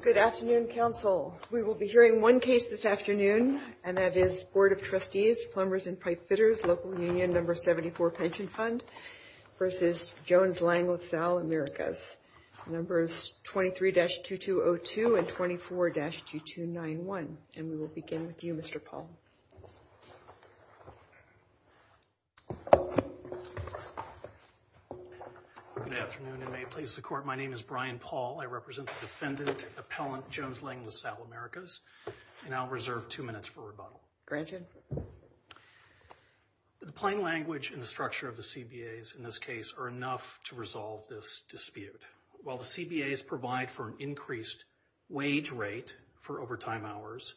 Good afternoon, Council. We will be hearing one case this afternoon, and that is Board of Trustees, Plumbers and Pipefitters, Local Union, No. 74 Pension Fund, versus Jones, Land, Lasalle, Americas. Numbers 23-2202 and 24-2291. And we will begin with you, Mr. Paul. Good afternoon, and may it please the Court, my name is Brian Paul. I represent the defendant, appellant Jones, Land, Lasalle, Americas, and I'll reserve two minutes for rebuttal. Granted. The plain language and the structure of the CBAs in this case are enough to resolve this dispute. While the CBAs provide for an increased wage rate for overtime hours,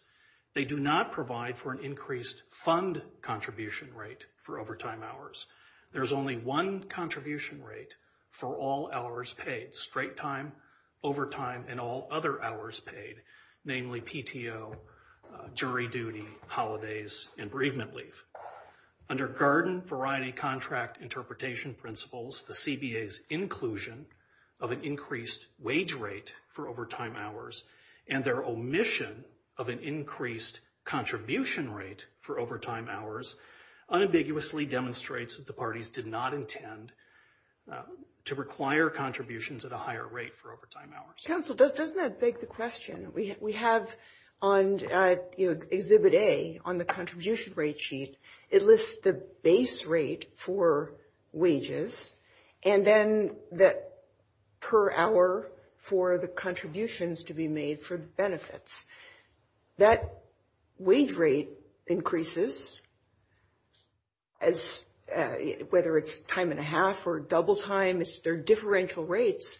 they do not provide for an increased fund contribution rate for overtime hours. There's only one contribution rate for all hours paid, straight time, overtime, and all other hours paid, namely PTO, jury duty, holidays, and bereavement leave. Under Garden Variety Contract Interpretation Principles, the CBAs inclusion of an increased wage rate for overtime hours, and their omission of an increased contribution rate for overtime hours, unambiguously demonstrates that the parties did not intend to require contributions at a higher rate for overtime hours. Counsel, doesn't that beg the question? We have on Exhibit A, on the contribution rate sheet, it lists the base rate for wages, and then that per hour for the contributions to be made for the benefits. That wage rate increases, whether it's time and a half or double time, it's their differential rates.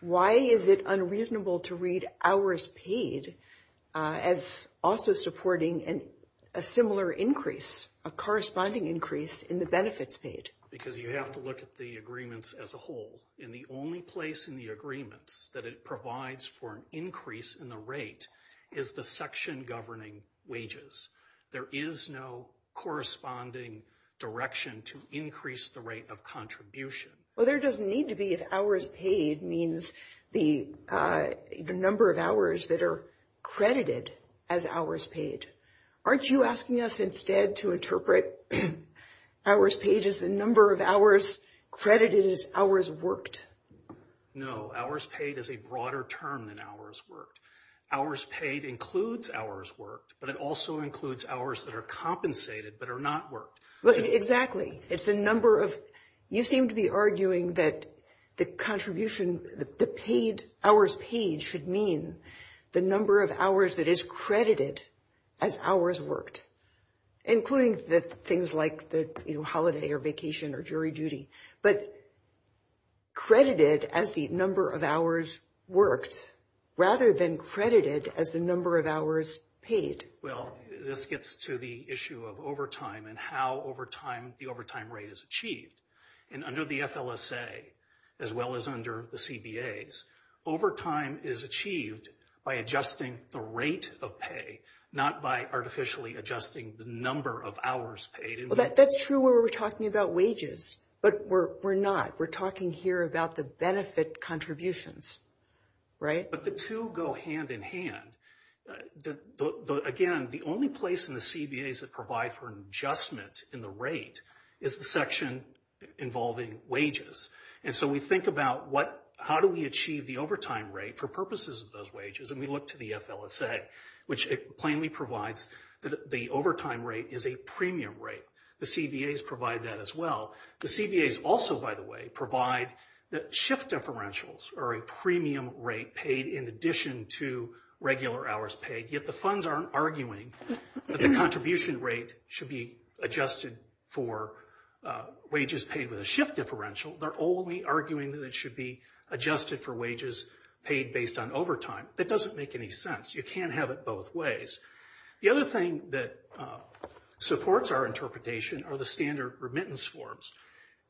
Why is it unreasonable to read hours paid as also supporting a similar increase, a corresponding increase in the benefits paid? Because you have to look at the agreements as a whole, and the only place in the agreements that it provides for an increase in the rate is the section governing wages. There is no corresponding direction to increase the rate of contribution. Well, there doesn't need to be if hours paid means the number of hours that are credited as hours paid. Aren't you asking us instead to interpret hours paid as the number of hours credited as hours worked? No, hours paid is a broader term than hours worked. Hours paid includes hours worked, but it also includes hours that are compensated but are not worked. Well, exactly. It's a number of, you seem to be arguing that the contribution, the paid, hours paid should mean the number of hours that is credited as hours worked, including the things like the holiday or vacation or jury duty. But credited as the number of hours worked rather than credited as the number of hours paid. Well, this gets to the issue of overtime and how overtime, the overtime rate is achieved. And under the FLSA, as well as under the CBAs, overtime is achieved by adjusting the rate of pay, not by artificially adjusting the number of hours paid. Well, that's true where we're talking about wages, but we're not. We're talking here about the benefit contributions, right? But the two go hand in hand. Again, the only place in the CBAs that provide for an adjustment in the rate is the section involving wages. And so we think about how do we achieve the overtime rate for purposes of those wages? And we look to the FLSA, which plainly provides that the overtime rate is a premium rate. The CBAs provide that as well. The CBAs also, by the way, provide that shift differentials are a premium rate paid in addition to regular hours paid, yet the funds aren't arguing that the contribution rate should be adjusted for wages paid with a shift differential. They're only arguing that it should be adjusted for wages paid based on overtime. That doesn't make any sense. You can't have it both ways. The other thing that supports our interpretation are the standard remittance forms.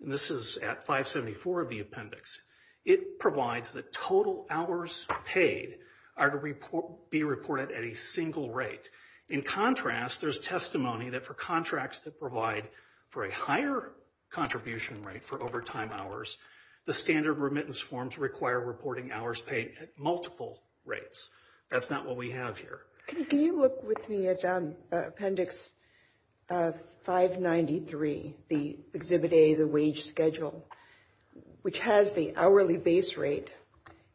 And this is at 574 of the appendix. It provides the total hours paid are to be reported at a single rate. In contrast, there's testimony that for contracts that provide for a higher contribution rate for overtime hours, the standard remittance forms require reporting hours paid at multiple rates. That's not what we have here. Can you look with me at appendix 593, the Exhibit A, the wage schedule, which has the hourly base rate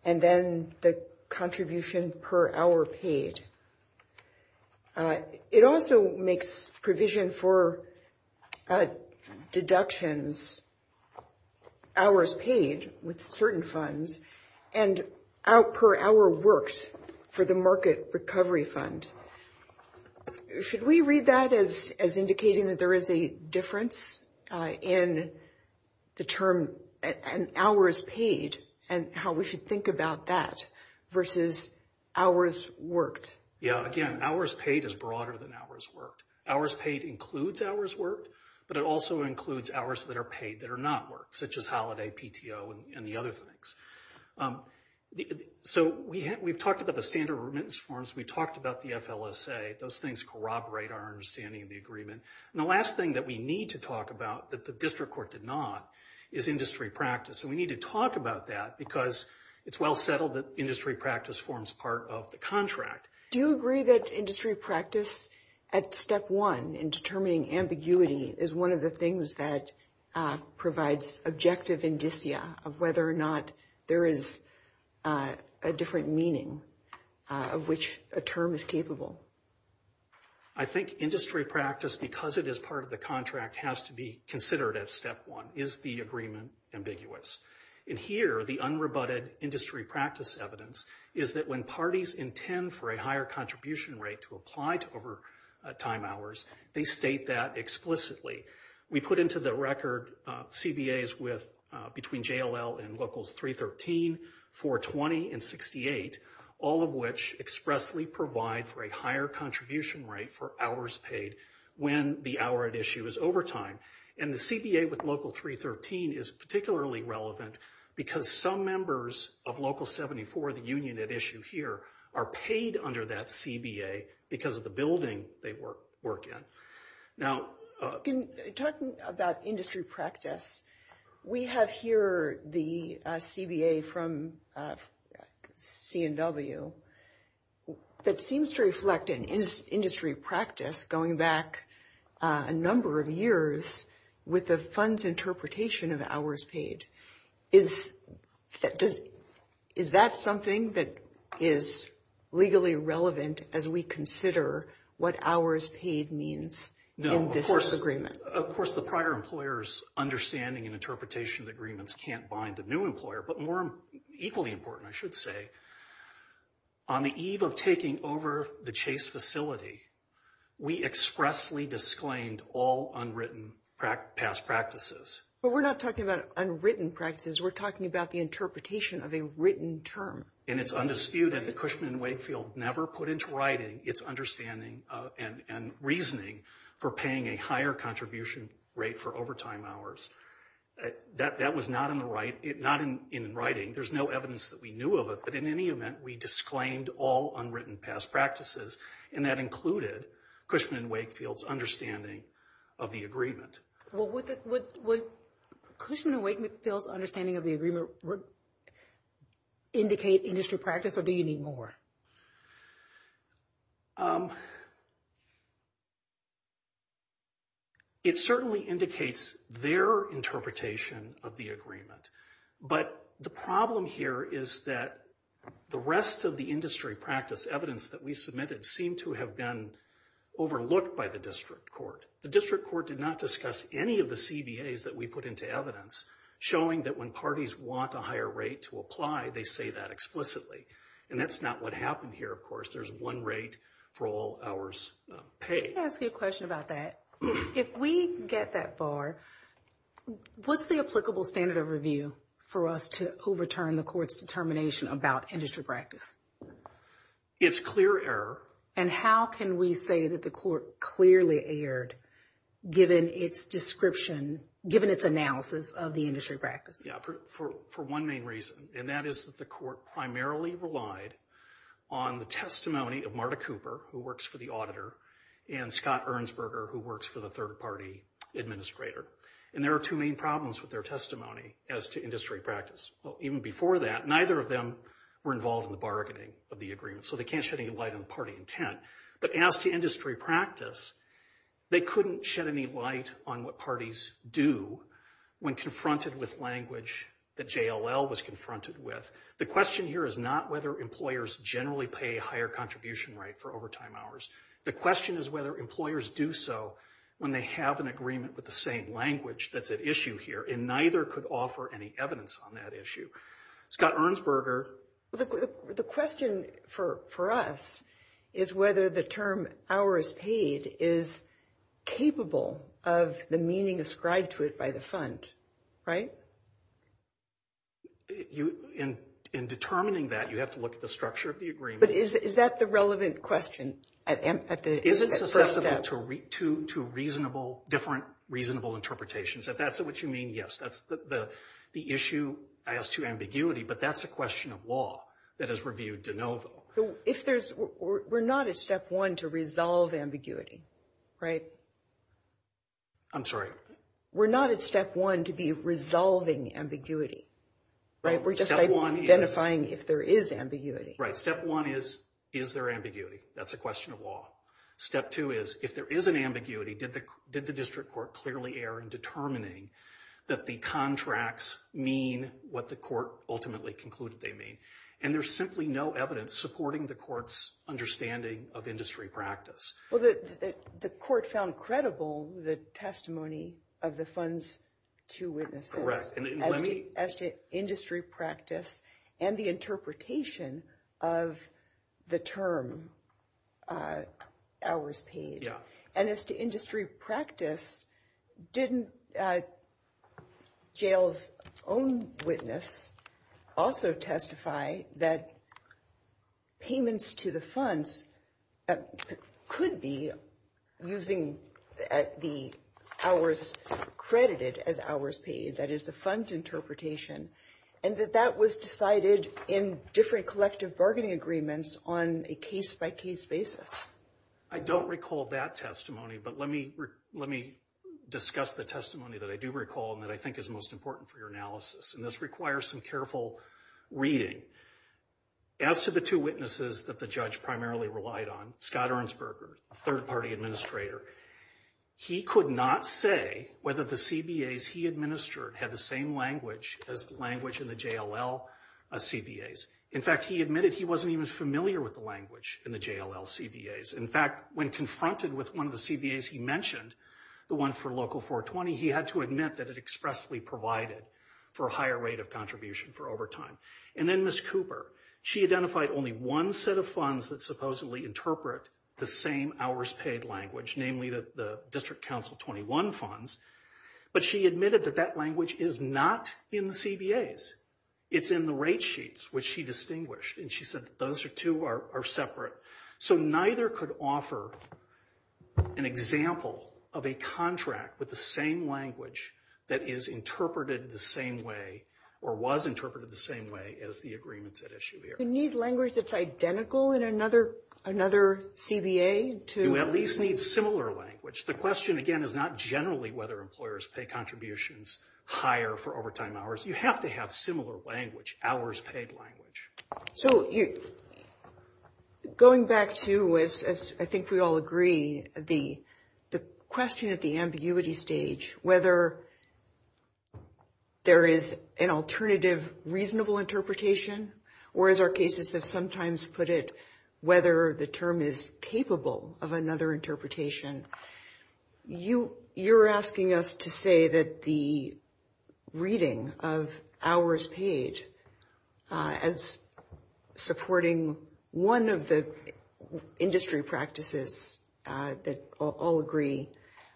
and then the contribution per hour paid. It also makes provision for deductions hours paid with certain funds and out per hour works for the market recovery fund. Should we read that as indicating that there is a difference in the term and hours paid and how we should think about that versus hours worked? Yeah, again, hours paid is broader than hours worked. Hours paid includes hours worked, but it also includes hours that are paid that are not worked such as holiday, PTO, and the other things. So we've talked about the standard remittance forms. We talked about the FLSA. Those things corroborate our understanding of the agreement. And the last thing that we need to talk about that the district court did not is industry practice. So we need to talk about that because it's well settled that industry practice forms part of the contract. Do you agree that industry practice at step one in determining ambiguity is one of the things that provides objective indicia of whether or not there is a different meaning of which a term is capable? I think industry practice, because it is part of the contract, has to be considered at step one. Is the agreement ambiguous? And here, the unrebutted industry practice evidence is that when parties intend for a higher contribution rate to apply to overtime hours, they state that explicitly. We put into the record CBAs between JLL and Locals 313, 420, and 68, all of which expressly provide for a higher contribution rate for hours paid when the hour at issue is overtime. And the CBA with Local 313 is particularly relevant because some members of Local 74, the union at issue here, are paid under that CBA because of the building they work in. Now, talking about industry practice, we have here the CBA from C&W that seems to reflect an industry practice going back a number of years with the fund's interpretation of hours paid. Is that something that is legally relevant as we consider what hours paid means in this agreement? Of course, the prior employer's understanding and interpretation of the agreements can't bind the new employer, but more equally important, I should say, on the eve of taking over the Chase facility, we expressly disclaimed all unwritten past practices. But we're not talking about unwritten practices. We're talking about the interpretation of a written term. And it's undisputed that Cushman & Wakefield never put into writing its understanding and reasoning for paying a higher contribution rate for overtime hours. That was not in writing. There's no evidence that we knew of it, but in any event, we disclaimed all unwritten past practices and that included Cushman & Wakefield's understanding of the agreement. Well, would Cushman & Wakefield's understanding of the agreement indicate industry practice, or do you need more? It certainly indicates their interpretation of the agreement. But the problem here is that the rest of the industry practice evidence that we submitted seemed to have been overlooked by the district court. The district court did not discuss any of the CBAs that we put into evidence, showing that when parties want a higher rate to apply, they say that explicitly. And that's not what happened here, of course. There's one rate for all hours paid. Can I ask you a question about that? If we get that far, what's the applicable standard of review for us to overturn the court's determination about industry practice? It's clear error. And how can we say that the court clearly erred given its description, given its analysis of the industry practice? Yeah, for one main reason, and that is that the court primarily relied on the testimony of Marta Cooper, who works for the auditor, and Scott Ernstberger, who works for the third-party administrator. And there are two main problems with their testimony as to industry practice. Well, even before that, neither of them were involved in the bargaining of the agreement, so they can't shed any light on the party intent. But as to industry practice, they couldn't shed any light on what parties do when confronted with language that JLL was confronted with. The question here is not whether employers generally pay a higher contribution rate for overtime hours. The question is whether employers do so when they have an agreement with the same language that's at issue here, and neither could offer any evidence on that issue. Scott Ernstberger. The question for us is whether the term hours paid is capable of the meaning ascribed to it by the fund, right? In determining that, you have to look at the structure of the agreement. But is that the relevant question at first step? Is it susceptible to reasonable, different reasonable interpretations? If that's what you mean, yes. That's the issue as to ambiguity, but that's a question of law that is reviewed de novo. If there's, we're not at step one to resolve ambiguity, right? I'm sorry. We're not at step one to be resolving ambiguity, right? We're just identifying if there is ambiguity. Right, step one is, is there ambiguity? That's a question of law. Step two is, if there is an ambiguity, did the district court clearly err in determining that the contracts mean what the court ultimately concluded they mean? And there's simply no evidence supporting the court's understanding of industry practice. Well, the court found credible the testimony of the fund's two witnesses. Correct, and let me- As to industry practice and the interpretation of the term hours paid. Yeah. And as to industry practice, didn't jail's own witness also testify that payments to the funds could be using the hours credited as hours paid, that is the fund's interpretation, and that that was decided in different collective bargaining agreements on a case-by-case basis? I don't recall that testimony, but let me discuss the testimony that I do recall and that I think is most important for your analysis. And this requires some careful reading. As to the two witnesses that the judge primarily relied on, Scott Ernstberger, a third-party administrator, he could not say whether the CBAs he administered had the same language as the language in the JLL CBAs. In fact, he admitted he wasn't even familiar with the language in the JLL CBAs. In fact, when confronted with one of the CBAs he mentioned, the one for Local 420, he had to admit that it expressly provided for a higher rate of contribution for overtime. And then Ms. Cooper, she identified only one set of funds that supposedly interpret the same hours paid language, namely the District Council 21 funds, but she admitted that that language is not in the CBAs. It's in the rate sheets, which she distinguished, and she said that those two are separate. So neither could offer an example of a contract with the same language that is interpreted the same way, or was interpreted the same way, as the agreements at issue here. You need language that's identical in another CBA to... You at least need similar language. The question, again, is not generally whether employers pay contributions higher for overtime hours. You have to have similar language, hours paid language. So going back to, as I think we all agree, the question at the ambiguity stage, whether there is an alternative reasonable interpretation, or as our cases have sometimes put it, whether the term is capable of another interpretation. You're asking us to say that the reading of hours paid as supporting one of the industry practices that all agree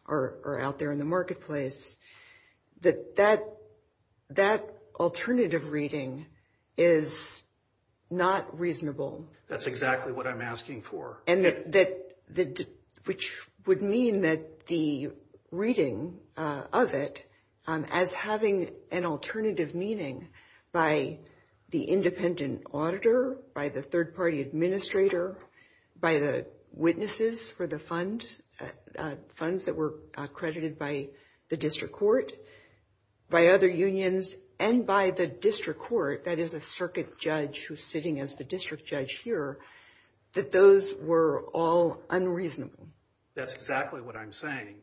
are out there in the marketplace, that that alternative reading is not reasonable. That's exactly what I'm asking for. And that, which would mean that the reading of it as having an alternative meaning by the independent auditor, by the third party administrator, by the witnesses for the funds, funds that were accredited by the district court, by other unions, and by the district court, that is a circuit judge who's sitting as the district judge here, that those were all unreasonable. That's exactly what I'm saying.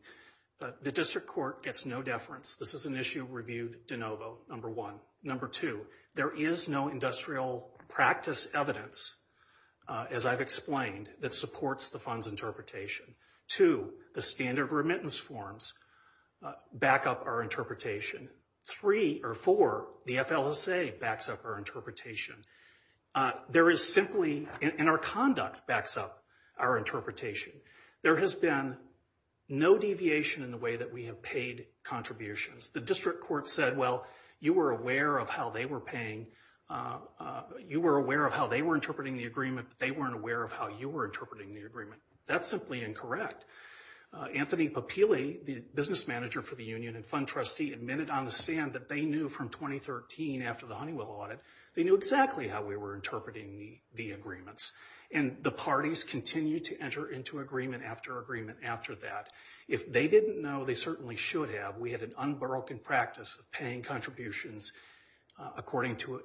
The district court gets no deference. This is an issue reviewed de novo, number one. Number two, there is no industrial practice evidence, as I've explained, that supports the funds interpretation. Two, the standard remittance forms back up our interpretation. Three, or four, the FLSA backs up our interpretation. There is simply, and our conduct backs up our interpretation. There has been no deviation in the way that we have paid contributions. The district court said, well, you were aware of how they were paying, you were aware of how they were interpreting the agreement, but they weren't aware of how you were interpreting the agreement. That's simply incorrect. Anthony Papili, the business manager for the union and fund trustee, admitted on the stand that they knew from 2013, after the Honeywell audit, they knew exactly how we were interpreting the agreements. And the parties continued to enter into agreement after agreement after that. If they didn't know, they certainly should have. We had an unbroken practice of paying contributions according to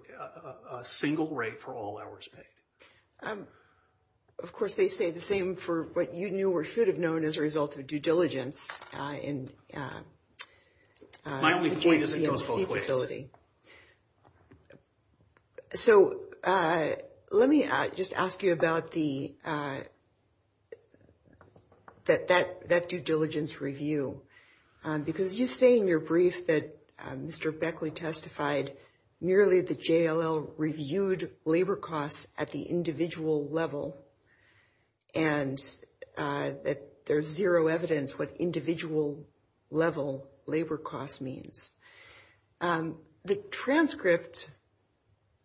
a single rate for all hours paid. Of course, they say the same for what you knew or should have known as a result of due diligence. My only point is it goes both ways. So, let me just ask you about that due diligence review. Because you say in your brief that Mr. Beckley testified nearly the JLL reviewed labor costs at the individual level and that there's zero evidence what individual level labor costs means. The transcript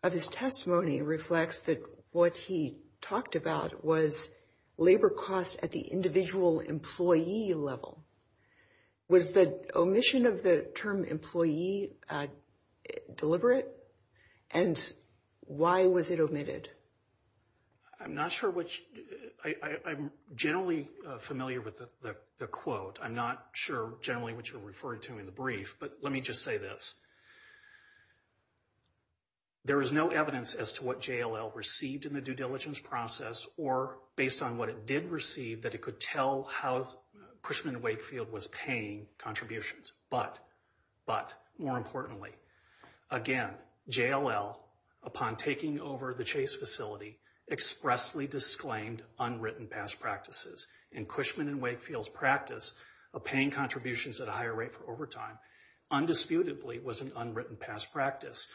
of his testimony reflects that what he talked about was labor costs at the individual employee level. Was the omission of the term employee deliberate? And why was it omitted? I'm not sure which, I'm generally familiar with the quote. I'm not sure generally what you're referring to in the brief but let me just say this. There is no evidence as to what JLL received in the due diligence process or based on what it did receive that it could tell how Cushman & Wakefield was paying contributions. But, more importantly, again, JLL, upon taking over the Chase facility, expressly disclaimed unwritten past practices. In Cushman & Wakefield's practice of paying contributions at a higher rate for overtime, undisputedly was an unwritten past practice.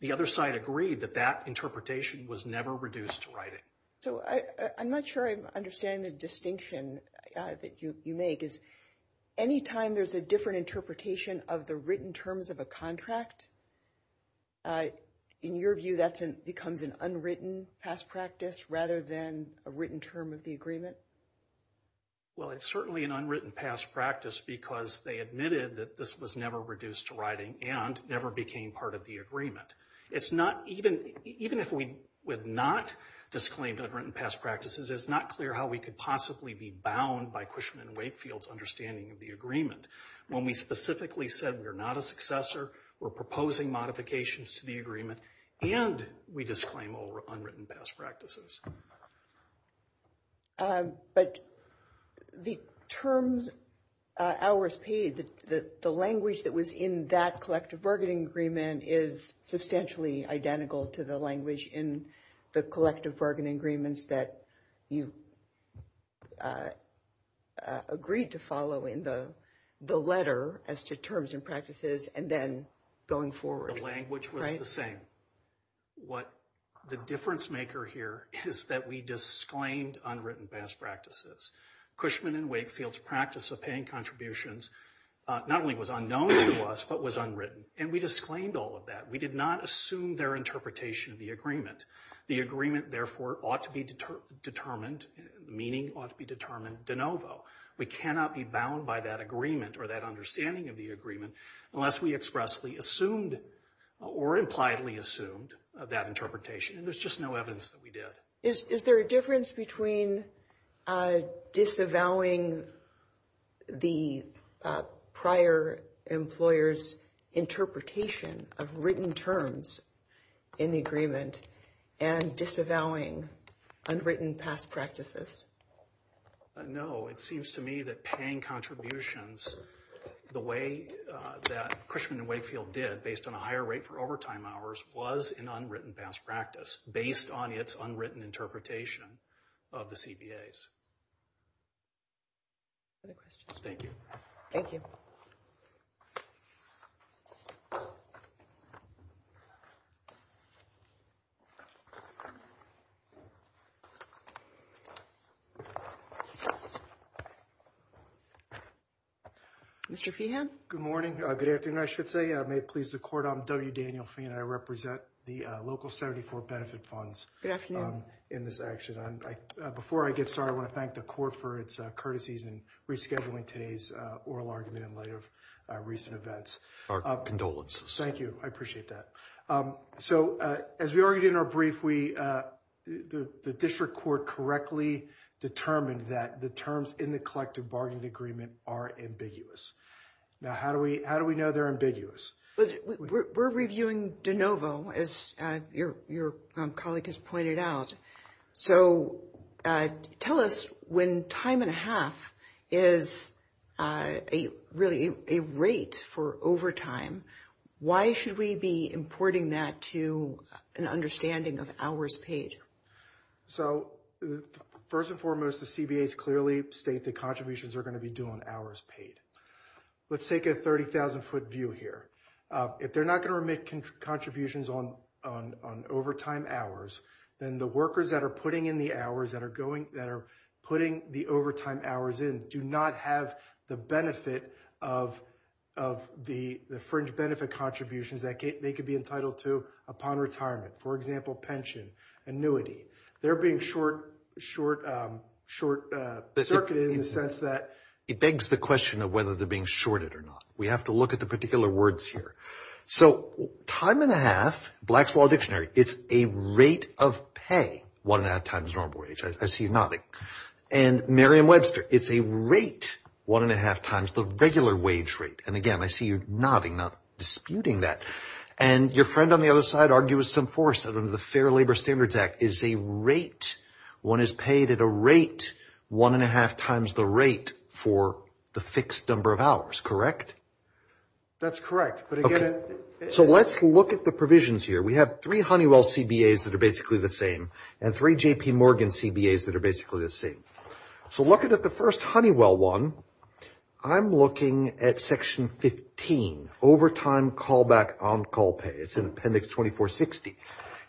The other side agreed that that interpretation was never reduced to writing. So, I'm not sure I understand the distinction that you make is anytime there's a different interpretation of the written terms of a contract, in your view that becomes an unwritten past practice rather than a written term of the agreement? Well, it's certainly an unwritten past practice because they admitted that this was never reduced to writing and never became part of the agreement. It's not, even if we would not disclaim unwritten past practices, it's not clear how we could possibly be bound by Cushman & Wakefield's understanding of the agreement. When we specifically said, we're not a successor, we're proposing modifications to the agreement and we disclaim all unwritten past practices. But, the term hours paid, the language that was in that collective bargaining agreement is substantially identical to the language in the collective bargaining agreements that you agreed to follow in the letter as to terms and practices and then going forward. The language was the same. What the difference maker here is that we disclaimed unwritten past practices. Cushman & Wakefield's practice of paying contributions not only was unknown to us, but was unwritten. And we disclaimed all of that. We did not assume their interpretation of the agreement. The agreement, therefore, ought to be determined, the meaning ought to be determined de novo. We cannot be bound by that agreement or that understanding of the agreement unless we expressly assumed or impliedly assumed that interpretation. And there's just no evidence that we did. Is there a difference between disavowing the prior employer's interpretation of written terms in the agreement and disavowing unwritten past practices? No, it seems to me that paying contributions the way that Cushman & Wakefield did based on a higher rate for overtime hours was an unwritten past practice based on its unwritten interpretation of the CBAs. Other questions? Thank you. Thank you. Mr. Fehan? Good morning, good afternoon, I should say. May it please the court, I'm W. Daniel Fehan. I represent the local 74 benefit funds in this action. Before I get started, I want to thank the court for its courtesies in rescheduling today's oral argument in light of recent events. Our condolences. Thank you, I appreciate that. So, as we argued in our brief, the district court correctly determined that the terms in the collective bargaining agreement are ambiguous. Now, how do we know they're ambiguous? We're reviewing de novo, as your colleague has pointed out. So, tell us when time and a half is really a rate for overtime, why should we be importing that to an understanding of hours paid? So, first and foremost, the CBAs clearly state the contributions are going to be due on hours paid. Let's take a 30,000 foot view here. If they're not going to make contributions on overtime hours, then the workers that are putting the overtime hours in do not have the benefit of the fringe benefit contributions that they could be entitled to upon retirement. For example, pension, annuity. They're being short circuited in the sense that... It begs the question of whether they're being shorted or not, we have to look at the particular words here. So, time and a half, Black's Law Dictionary, it's a rate of pay, one and a half times normal wage. I see you nodding. And Merriam-Webster, it's a rate, one and a half times the regular wage rate. And again, I see you nodding, not disputing that. And your friend on the other side argues some force under the Fair Labor Standards Act is a rate. One is paid at a rate, one and a half times the rate for the fixed number of hours, correct? That's correct, but again... So let's look at the provisions here. We have three Honeywell CBAs that are basically the same and three JP Morgan CBAs that are basically the same. So looking at the first Honeywell one, I'm looking at section 15, overtime callback on call pay. It's in appendix 2460.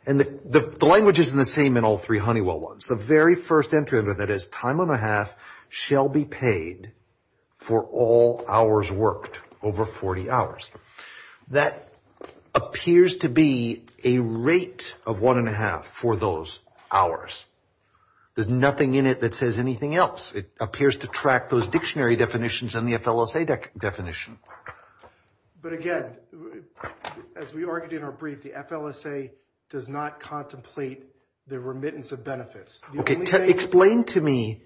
And the language isn't the same in all three Honeywell ones. The very first entry under that is time and a half shall be paid for all hours worked over 40 hours. That appears to be a rate of one and a half for those hours. There's nothing in it that says anything else. It appears to track those dictionary definitions and the FLSA definition. But again, as we argued in our brief, the FLSA does not contemplate the remittance of benefits. Okay, explain to me,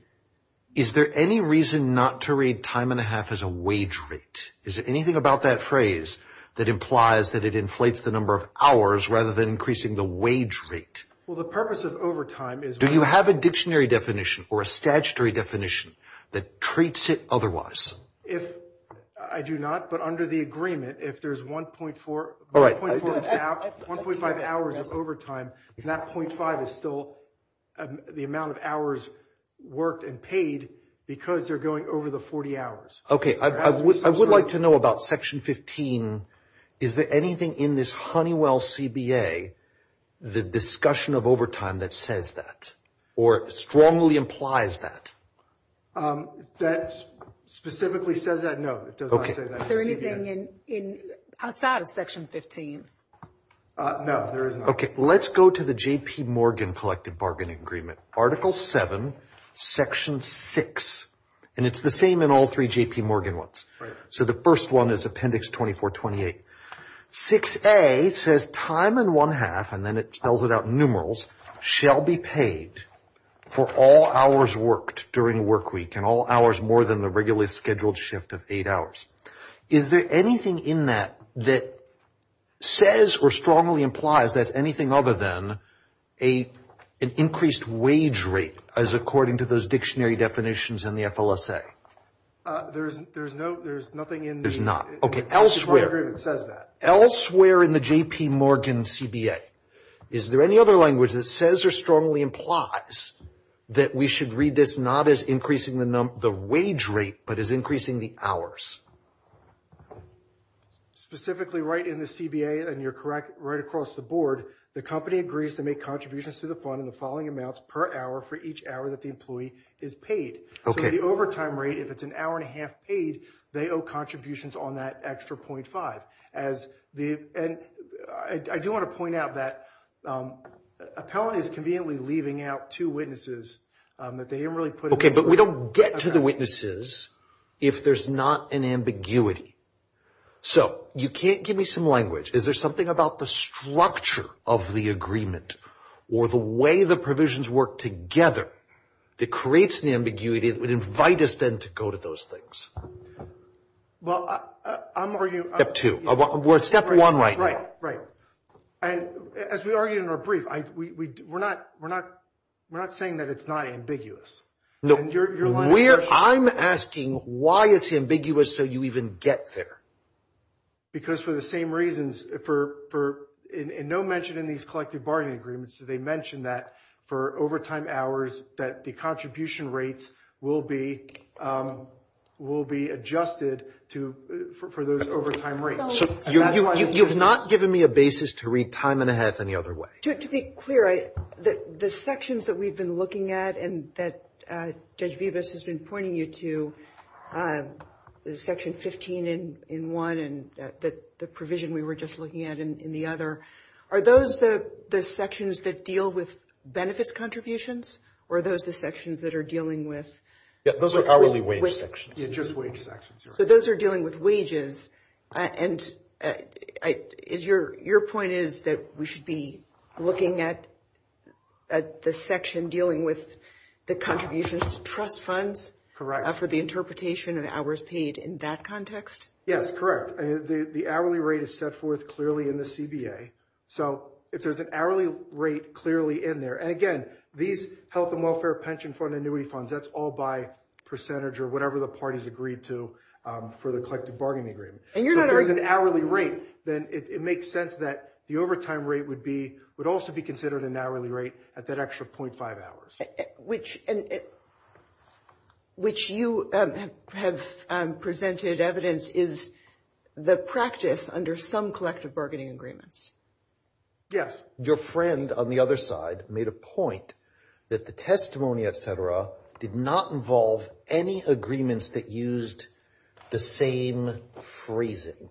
is there any reason not to read time and a half as a wage rate? Is there anything about that phrase that implies that it inflates the number of hours rather than increasing the wage rate? Well, the purpose of overtime is... Do you have a dictionary definition or a statutory definition that treats it otherwise? If I do not, but under the agreement, if there's 1.4, 1.5 hours of overtime, that 0.5 is still the amount of hours worked and paid because they're going over the 40 hours. Okay, I would like to know about section 15. Is there anything in this Honeywell CBA, the discussion of overtime that says that or strongly implies that? That specifically says that? No, it does not say that. Is there anything outside of section 15? No, there is not. Let's go to the J.P. Morgan Collective Bargaining Agreement. Article seven, section six, and it's the same in all three J.P. Morgan ones. So the first one is appendix 2428. 6A says time and one half, and then it spells it out in numerals, shall be paid for all hours worked during work week and all hours more than the regularly scheduled shift of eight hours. Is there anything in that that says or strongly implies that's anything other than an increased wage rate as according to those dictionary definitions in the FLSA? There's nothing in the- There's not. Okay, elsewhere. It says that. Elsewhere in the J.P. Morgan CBA, is there any other language that says or strongly implies that we should read this not as increasing the wage rate, but as increasing the hours? Specifically right in the CBA, and you're correct, right across the board, the company agrees to make contributions to the fund in the following amounts per hour for each hour that the employee is paid. Okay. So the overtime rate, if it's an hour and a half paid, they owe contributions on that extra .5, as the, and I do want to point out that Appellant is conveniently leaving out two witnesses, but they didn't really put- Okay, but we don't get to the witnesses if there's not an ambiguity. So you can't give me some language. Is there something about the structure of the agreement or the way the provisions work together that creates an ambiguity that would invite us then to go to those things? Well, I'm arguing- Step two. We're at step one right now. Right, right. And as we argued in our brief, we're not saying that it's not ambiguous. No, we're, I'm asking why it's ambiguous till you even get there. Because for the same reasons, for, and no mention in these collective bargaining agreements do they mention that for overtime hours that the contribution rates will be, will be adjusted to, for those overtime rates. So you've not given me a basis to read time and a half any other way. To be clear, the sections that we've been looking at and that Judge Vivas has been pointing you to, the section 15 in one and the provision we were just looking at in the other, are those the sections that deal with benefits contributions? Or are those the sections that are dealing with- Yeah, those are hourly wage sections. Yeah, just wage sections, you're right. So those are dealing with wages. And your point is that we should be looking at the section dealing with the contributions to trust funds for the interpretation of hours paid in that context? Yes, correct. The hourly rate is set forth clearly in the CBA. So if there's an hourly rate clearly in there, and again, these health and welfare pension fund annuity funds, that's all by percentage or whatever the parties agreed to for the collective bargaining agreement. And you're not- So if there's an hourly rate, then it makes sense that the overtime rate would be, would also be considered an hourly rate at that extra 0.5 hours. Which you have presented evidence is the practice under some collective bargaining agreements. Yes, your friend on the other side made a point that the testimony, et cetera, did not involve any agreements that used the same phrasing.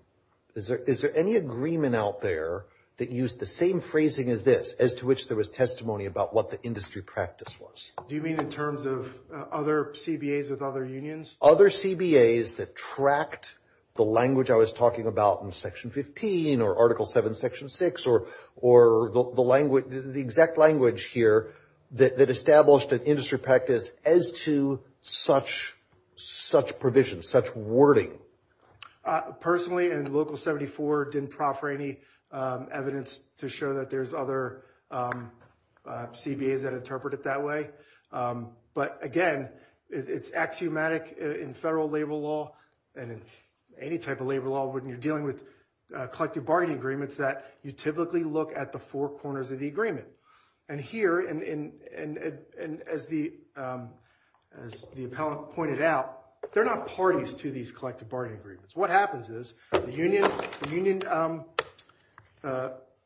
Is there any agreement out there that used the same phrasing as this, as to which there was testimony about what the industry practice was? Do you mean in terms of other CBAs with other unions? Other CBAs that tracked the language I was talking about in section 15, or article seven, section six, or the exact language here that established an industry practice as to such provisions, such wording. Personally, in local 74, didn't proffer any evidence to show that there's other CBAs that interpret it that way. But again, it's axiomatic in federal labor law, and in any type of labor law, when you're dealing with collective bargaining agreements, that you typically look at the four corners of the agreement. And here, as the appellant pointed out, they're not parties to these collective bargaining agreements. What happens is, the union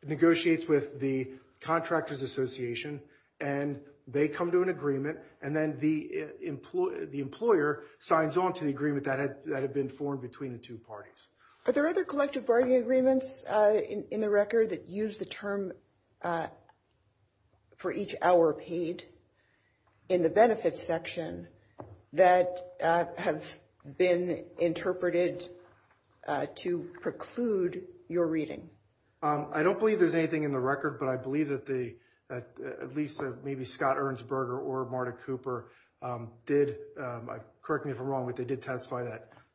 negotiates with the contractor's association, and they come to an agreement, and then the employer signs on to the agreement that had been formed between the two parties. Are there other collective bargaining agreements in the record that use the term for each hour paid in the benefits section that have been interpreted to preclude your reading? I don't believe there's anything in the record, but I believe that at least maybe Scott Ernstberger or Marta Cooper did. Correct me if I'm wrong, but they did testify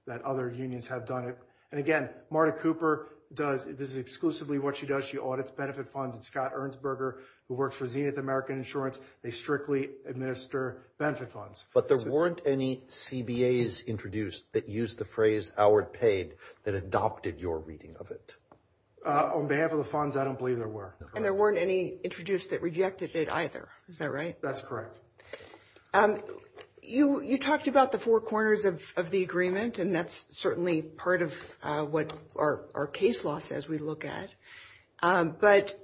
that other unions have done it. And again, Marta Cooper does, this is exclusively what she does. She audits benefit funds, and Scott Ernstberger, who works for Zenith American Insurance, they strictly administer benefit funds. But there weren't any CBAs introduced that used the phrase, hour paid, that adopted your reading of it? On behalf of the funds, I don't believe there were. And there weren't any introduced that rejected it either. Is that right? That's correct. You talked about the four corners of the agreement, and that's certainly part of what our case law says we look at, but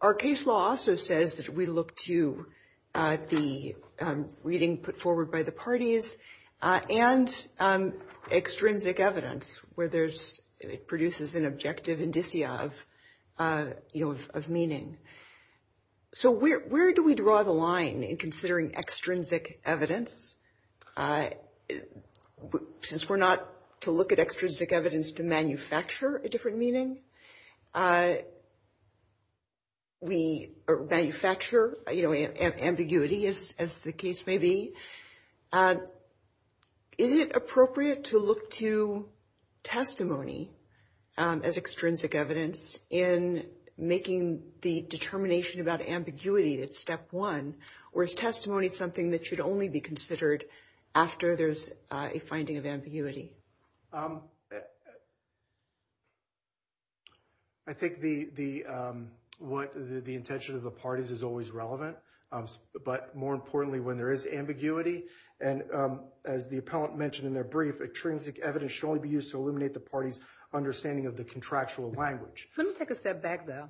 our case law also says that we look to the reading put forward by the parties and extrinsic evidence, where it produces an objective indicia of meaning. So where do we draw the line in considering extrinsic evidence? Since we're not to look at extrinsic evidence to manufacture a different meaning, we manufacture ambiguity, as the case may be. Is it appropriate to look to testimony as extrinsic evidence in making the determination about ambiguity at step one, or is testimony something that should only be considered after there's a finding of ambiguity? I think the intention of the parties is always relevant, but more importantly, when there is ambiguity, and as the appellant mentioned in their brief, extrinsic evidence should only be used to eliminate the party's understanding of the contractual language. Let me take a step back, though.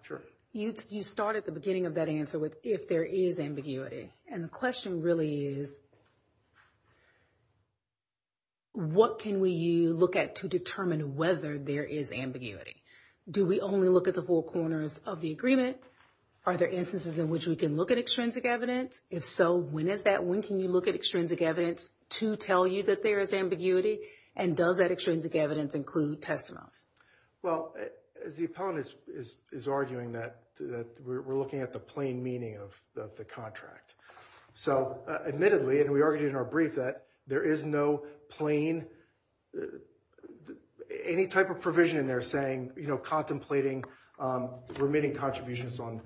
You started at the beginning of that answer with if there is ambiguity. And the question really is, what can we look at to determine whether there is ambiguity? Do we only look at the whole corners of the agreement? Are there instances in which we can look at extrinsic evidence? If so, when is that? When can you look at extrinsic evidence to tell you that there is ambiguity? And does that extrinsic evidence include testimony? Well, as the appellant is arguing that we're looking at the plain meaning of the contract. So admittedly, and we argued in our brief that there is no plain, any type of provision in there saying, contemplating remitting contributions on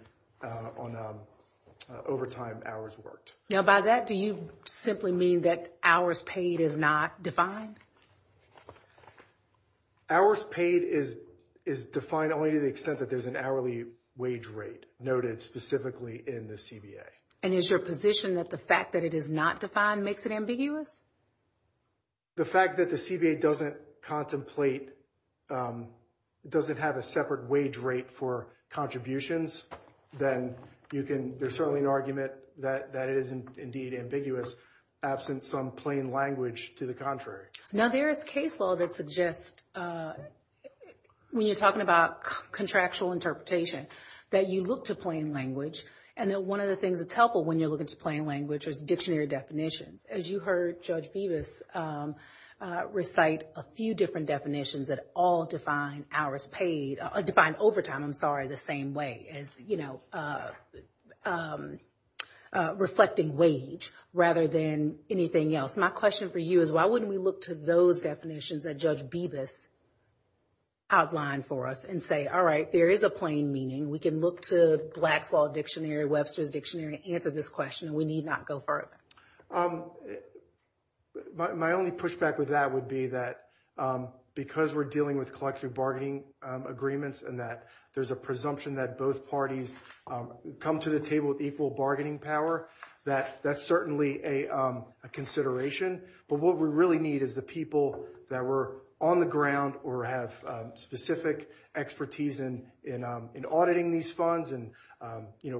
overtime hours worked. Now by that, do you simply mean that hours paid is not defined? Hours paid is defined only to the extent that there's an hourly wage rate noted specifically in the CBA. And is your position that the fact that it is not defined makes it ambiguous? The fact that the CBA doesn't contemplate, doesn't have a separate wage rate for contributions, then you can, there's certainly an argument that it is indeed ambiguous, absent some plain language to the contrary. Now there is case law that suggests, when you're talking about contractual interpretation, that you look to plain language. And then one of the things that's helpful when you're looking to plain language is dictionary definitions. As you heard Judge Bevis recite a few different definitions that all define hours paid, define overtime, I'm sorry, the same way as, reflecting wage rather than anything else. My question for you is why wouldn't we look to those definitions that Judge Bevis outlined for us and say, all right, there is a plain meaning. We can look to Black's Law Dictionary, Webster's Dictionary to answer this question and we need not go further. Um, my only pushback with that would be that because we're dealing with collective bargaining agreements and that there's a presumption that both parties come to the table with equal bargaining power, that that's certainly a consideration. But what we really need is the people that were on the ground or have specific expertise in auditing these funds and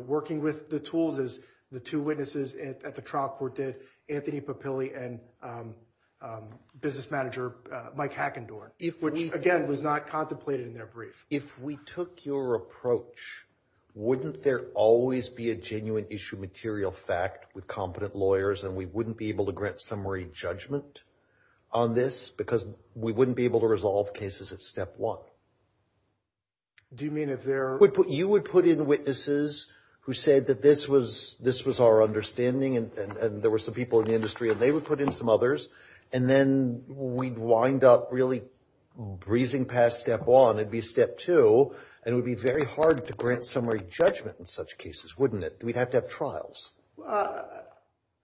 working with the tools as the two witnesses at the trial court did, Anthony Papilli and business manager Mike Hackendorf, which again, was not contemplated in their brief. If we took your approach, wouldn't there always be a genuine issue, material fact with competent lawyers and we wouldn't be able to grant summary judgment on this because we wouldn't be able to resolve cases at step one? Do you mean if there- You would put in witnesses who said that this was our understanding and there were some people in the industry and they would put in some others and then we'd wind up really breezing past step one, it'd be step two and it would be very hard to grant summary judgment in such cases, wouldn't it? We'd have to have trials.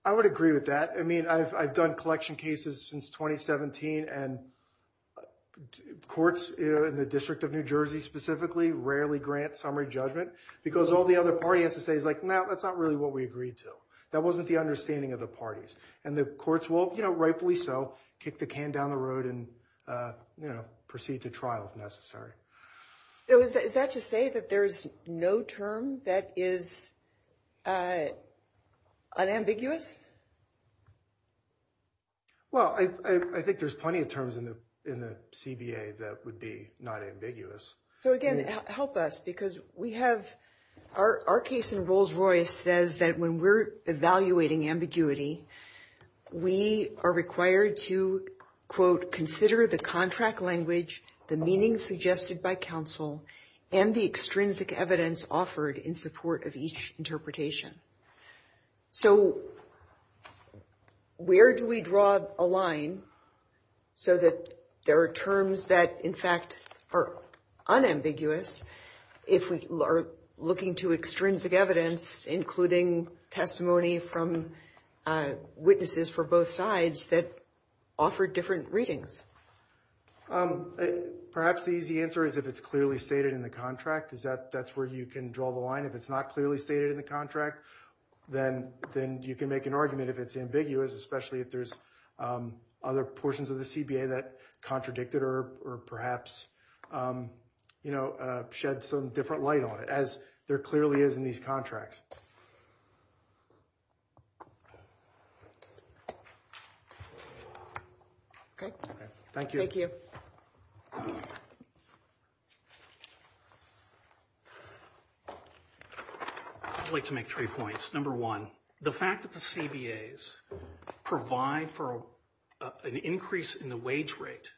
I would agree with that. I mean, I've done collection cases since 2017 and courts in the District of New Jersey specifically rarely grant summary judgment because all the other party has to say is like, no, that's not really what we agreed to. That wasn't the understanding of the parties and the courts will, rightfully so, kick the can down the road and proceed to trial if necessary. Is that to say that there's no term that is unambiguous? Well, I think there's plenty of terms in the CBA that would be not ambiguous. So again, help us because we have, our case in Rolls-Royce says that when we're evaluating ambiguity, we are required to, quote, consider the contract language, the meaning suggested by counsel and the extrinsic evidence offered in support of each interpretation. So, where do we draw a line so that there are terms that in fact are unambiguous if we are looking to extrinsic evidence, including testimony from witnesses for both sides that offer different readings? Perhaps the easy answer is if it's clearly stated in the contract, is that that's where you can draw the line. If it's not clearly stated in the contract, then you can make an argument if it's ambiguous, especially if there's other portions of the CBA that contradicted or perhaps shed some different light on it as there clearly is in these contracts. Okay. Thank you. I'd like to make three points. Number one, the fact that the CBAs provide for an increase in the wage rate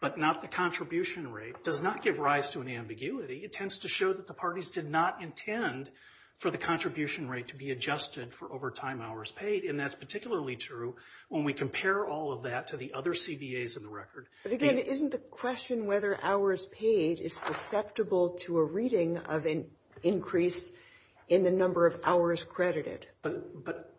but not the contribution rate does not give rise to an ambiguity. It tends to show that the parties did not intend for the contribution rate to be adjusted for overtime hours paid, and that's particularly true when we compare all of that to the other CBAs in the record. But again, isn't the question whether hours paid is susceptible to a reading of an increase in the number of hours credited? But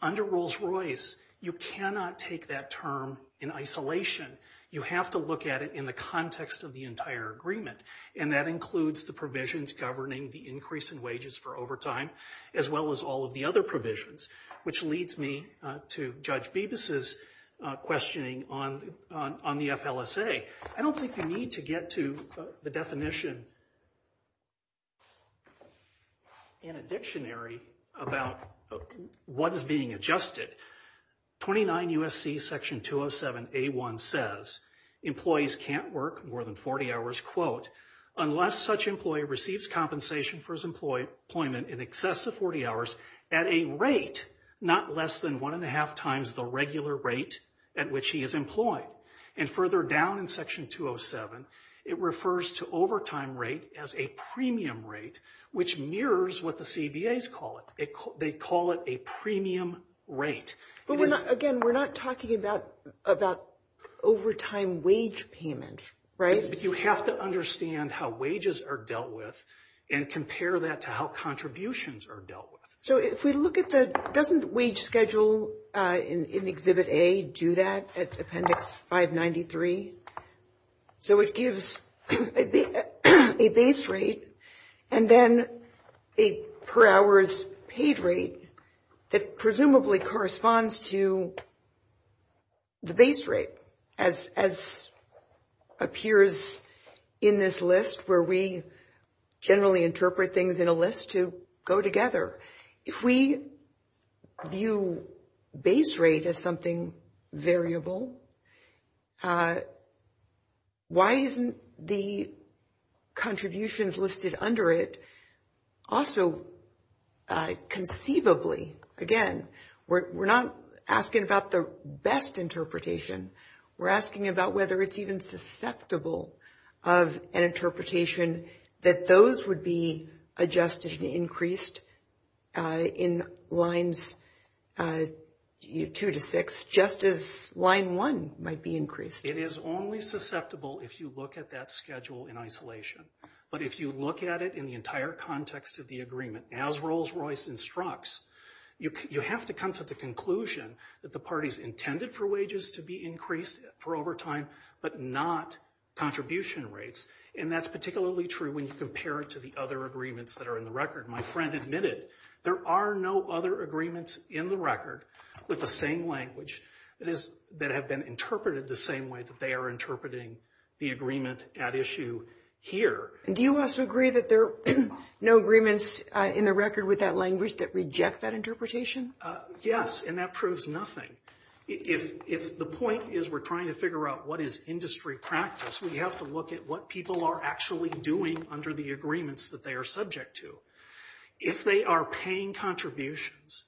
under Rolls-Royce, you cannot take that term in isolation. You have to look at it in the context of the entire agreement, and that includes the provisions governing the increase in wages for overtime as well as all of the other provisions, which leads me to Judge Bibas's questioning on the FLSA. I don't think you need to get to the definition. In a dictionary about what is being adjusted, 29 U.S.C. Section 207A1 says, employees can't work more than 40 hours, quote, unless such employee receives compensation for his employment in excess of 40 hours at a rate not less than 1 1⁄2 times the regular rate at which he is employed. And further down in Section 207, it refers to overtime rate as a premium rate which mirrors what the CBAs call it. They call it a premium rate. But again, we're not talking about overtime wage payment, right? You have to understand how wages are dealt with and compare that to how contributions are dealt with. So if we look at the, doesn't wage schedule in Exhibit A do that at Appendix 593? So it gives a base rate, and then a per hour's paid rate that presumably corresponds to the base rate as appears in this list where we generally interpret things in a list to go together. If we view base rate as something variable, why isn't the contributions listed under it also conceivably, again, we're not asking about the best interpretation. We're asking about whether it's even susceptible of an interpretation that those would be adjusted and increased in lines two to six just as line one might be increased. It is only susceptible if you look at that schedule in isolation. But if you look at it in the entire context of the agreement as Rolls-Royce instructs, you have to come to the conclusion that the parties intended for wages to be increased for overtime, but not contribution rates. And that's particularly true when you compare it to the other agreements that are in the record. My friend admitted there are no other agreements in the record with the same language that have been interpreted the same way that they are interpreting the agreement at issue here. And do you also agree that there are no agreements in the record with that language that reject that interpretation? Yes, and that proves nothing. If the point is we're trying to figure out what is industry practice, we have to look at what people are actually doing under the agreements that they are subject to. If they are paying contributions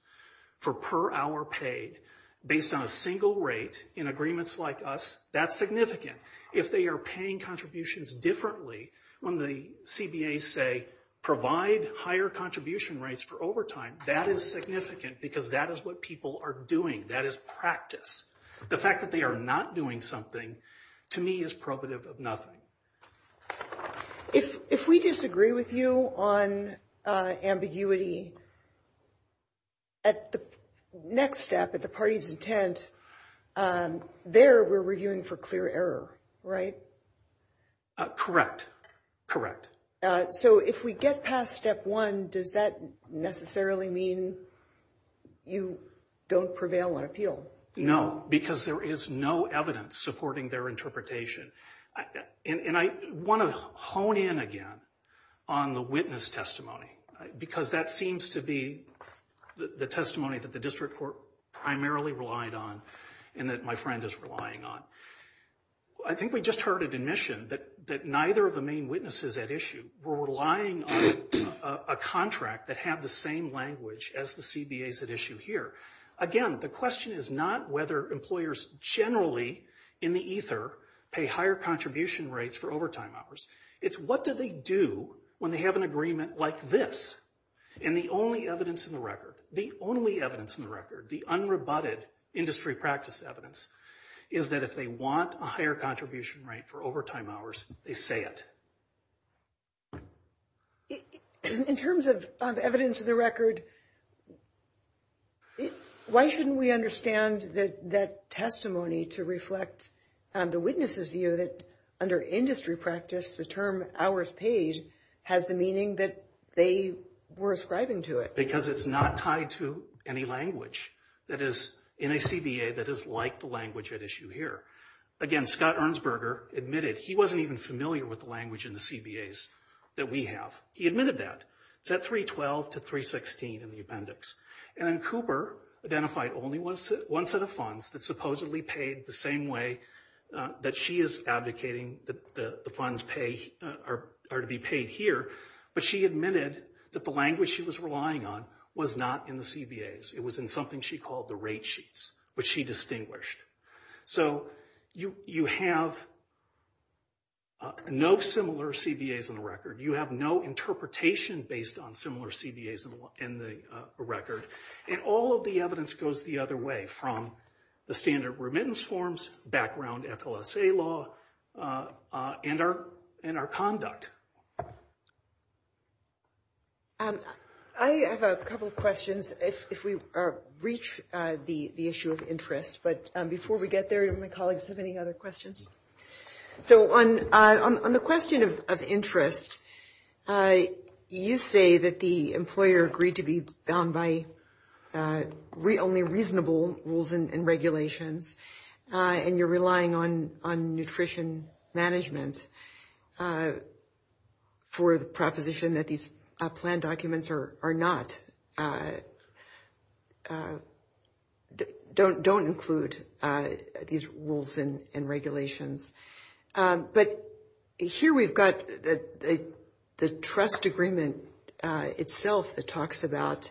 for per hour paid based on a single rate in agreements like us, that's significant. If they are paying contributions differently when the CBA say provide higher contribution rates for overtime, that is significant because that is what people are doing. That is practice. The fact that they are not doing something to me is probative of nothing. If we disagree with you on ambiguity at the next step, at the party's intent, there we're reviewing for clear error, right? Correct, correct. So if we get past step one, does that necessarily mean you don't prevail on appeal? No, because there is no evidence supporting their interpretation. And I want to hone in again on the witness testimony because that seems to be the testimony that the district court primarily relied on and that my friend is relying on. I think we just heard an admission that neither of the main witnesses at issue were relying on a contract that had the same language as the CBAs at issue here. Again, the question is not whether employers generally in the ether pay higher contribution rates for overtime hours. It's what do they do when they have an agreement like this? And the only evidence in the record, the only evidence in the record, the unrebutted industry practice evidence is that if they want a higher contribution rate for overtime hours, they say it. In terms of evidence in the record, why shouldn't we understand that that testimony to reflect the witness's view that under industry practice, the term hours paid has the meaning that they were ascribing to it? Because it's not tied to any language that is in a CBA that is like the language at issue here. Again, Scott Ernstberger admitted he wasn't even familiar with the language in the CBAs that we have. He admitted that. It's at 312 to 316 in the appendix. And then Cooper identified only one set of funds that supposedly paid the same way that she is advocating that the funds are to be paid here. But she admitted that the language she was relying on was not in the CBAs. It was in something she called the rate sheets, which she distinguished. So you have no similar CBAs in the record. You have no interpretation based on similar CBAs in the record. And all of the evidence goes the other way from the standard remittance forms, background FLSA law, and our conduct. I have a couple of questions if we reach the issue of interest. But before we get there, do my colleagues have any other questions? So on the question of interest, you say that the employer agreed to be bound by only reasonable rules and regulations. And you're relying on nutrition management for the proposition that these plan documents are not, don't include these rules and regulations. But here we've got the trust agreement itself that talks about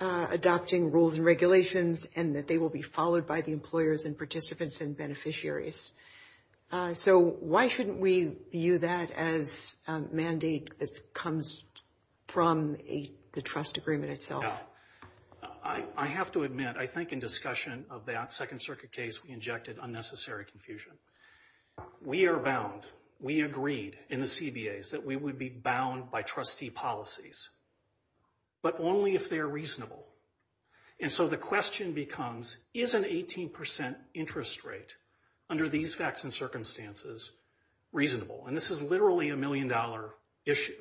adopting rules and regulations and that they will be followed by the employers and participants and beneficiaries. So why shouldn't we view that as a mandate that comes from the trust agreement itself? Yeah, I have to admit, I think in discussion of that Second Circuit case, we injected unnecessary confusion. We are bound. We agreed in the CBAs that we would be bound by trustee policies. But only if they're reasonable. And so the question becomes, is an 18% interest rate under these facts and circumstances reasonable? And this is literally a million dollar issue.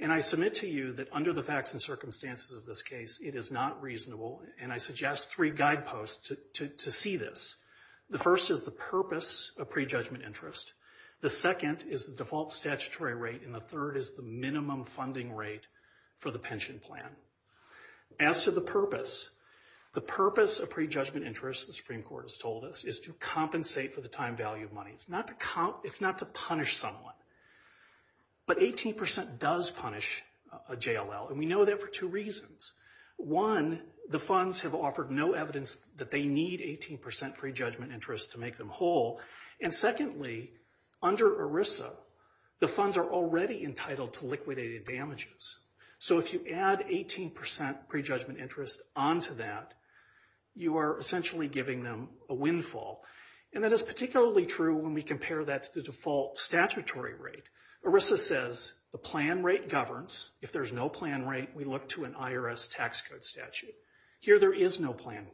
And I submit to you that under the facts and circumstances of this case, it is not reasonable. And I suggest three guideposts to see this. The first is the purpose of prejudgment interest. The second is the default statutory rate. And the third is the minimum funding rate for the pension plan. As to the purpose, the purpose of prejudgment interest, the Supreme Court has told us, is to compensate for the time value of money. It's not to punish someone. But 18% does punish a JLL. And we know that for two reasons. One, the funds have offered no evidence that they need 18% prejudgment interest to make them whole. And secondly, under ERISA, the funds are already entitled to liquidated damages. So if you add 18% prejudgment interest onto that, you are essentially giving them a windfall. And that is particularly true when we compare that to the default statutory rate. ERISA says the plan rate governs. If there's no plan rate, we look to an IRS tax code statute. Here there is no plan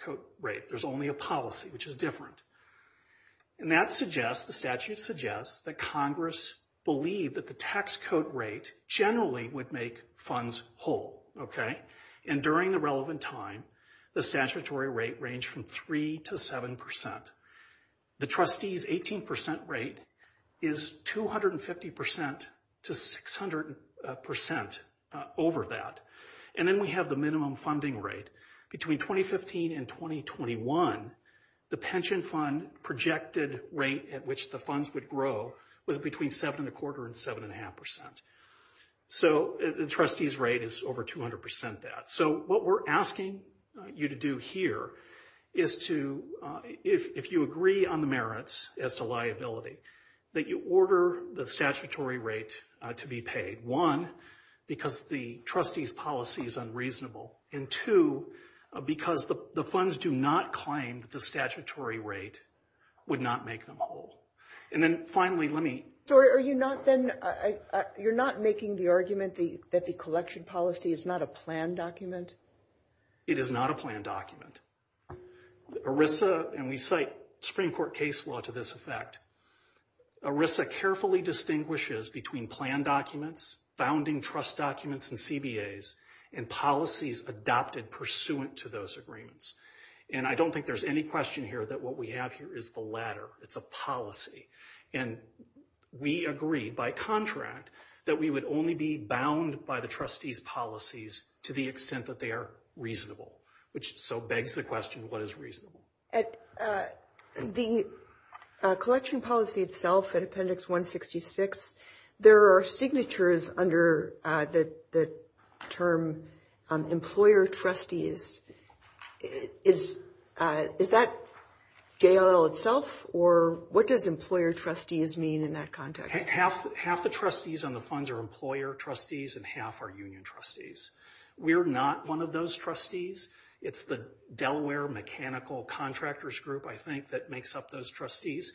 code rate. There's only a policy, which is different. And that suggests, the statute suggests, that Congress believed that the tax code rate generally would make funds whole, okay? And during the relevant time, the statutory rate ranged from three to 7%. The trustees 18% rate is 250% to 600% over that. And then we have the minimum funding rate. Between 2015 and 2021, the pension fund projected rate at which the funds would grow was between seven and a quarter and seven and a half percent. So the trustees rate is over 200% that. So what we're asking you to do here is to, if you agree on the merits as to liability, that you order the statutory rate to be paid. One, because the trustees policy is unreasonable. And two, because the funds do not claim that the statutory rate would not make them whole. And then finally, let me. So are you not then, you're not making the argument that the collection policy is not a plan document? It is not a plan document. ERISA, and we cite Supreme Court case law to this effect, ERISA carefully distinguishes between plan documents, founding trust documents, and CBAs, and policies adopted pursuant to those agreements. And I don't think there's any question here that what we have here is the latter. It's a policy. And we agree by contract that we would only be bound by the trustees policies to the extent that they are reasonable, which so begs the question, what is reasonable? The collection policy itself in Appendix 166, there are signatures under the term employer trustees. Is that JLL itself, or what does employer trustees mean in that context? Half the trustees on the funds are employer trustees, and half are union trustees. We're not one of those trustees. It's the Delaware Mechanical Contractors Group, I think, that makes up those trustees.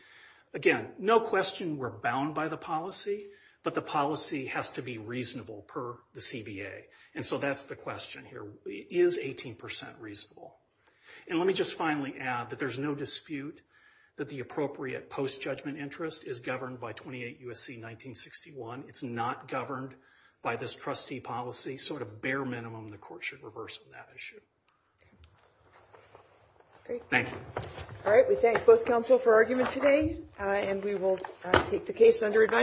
Again, no question we're bound by the policy, but the policy has to be reasonable per the CBA. And so that's the question here. Is 18% reasonable? And let me just finally add that there's no dispute that the appropriate post-judgment interest is governed by 28 U.S.C. 1961. It's not governed by this trustee policy, so at a bare minimum, the court should reverse that issue. Thank you. All right, we thank both counsel for argument today, and we will take the case under advice.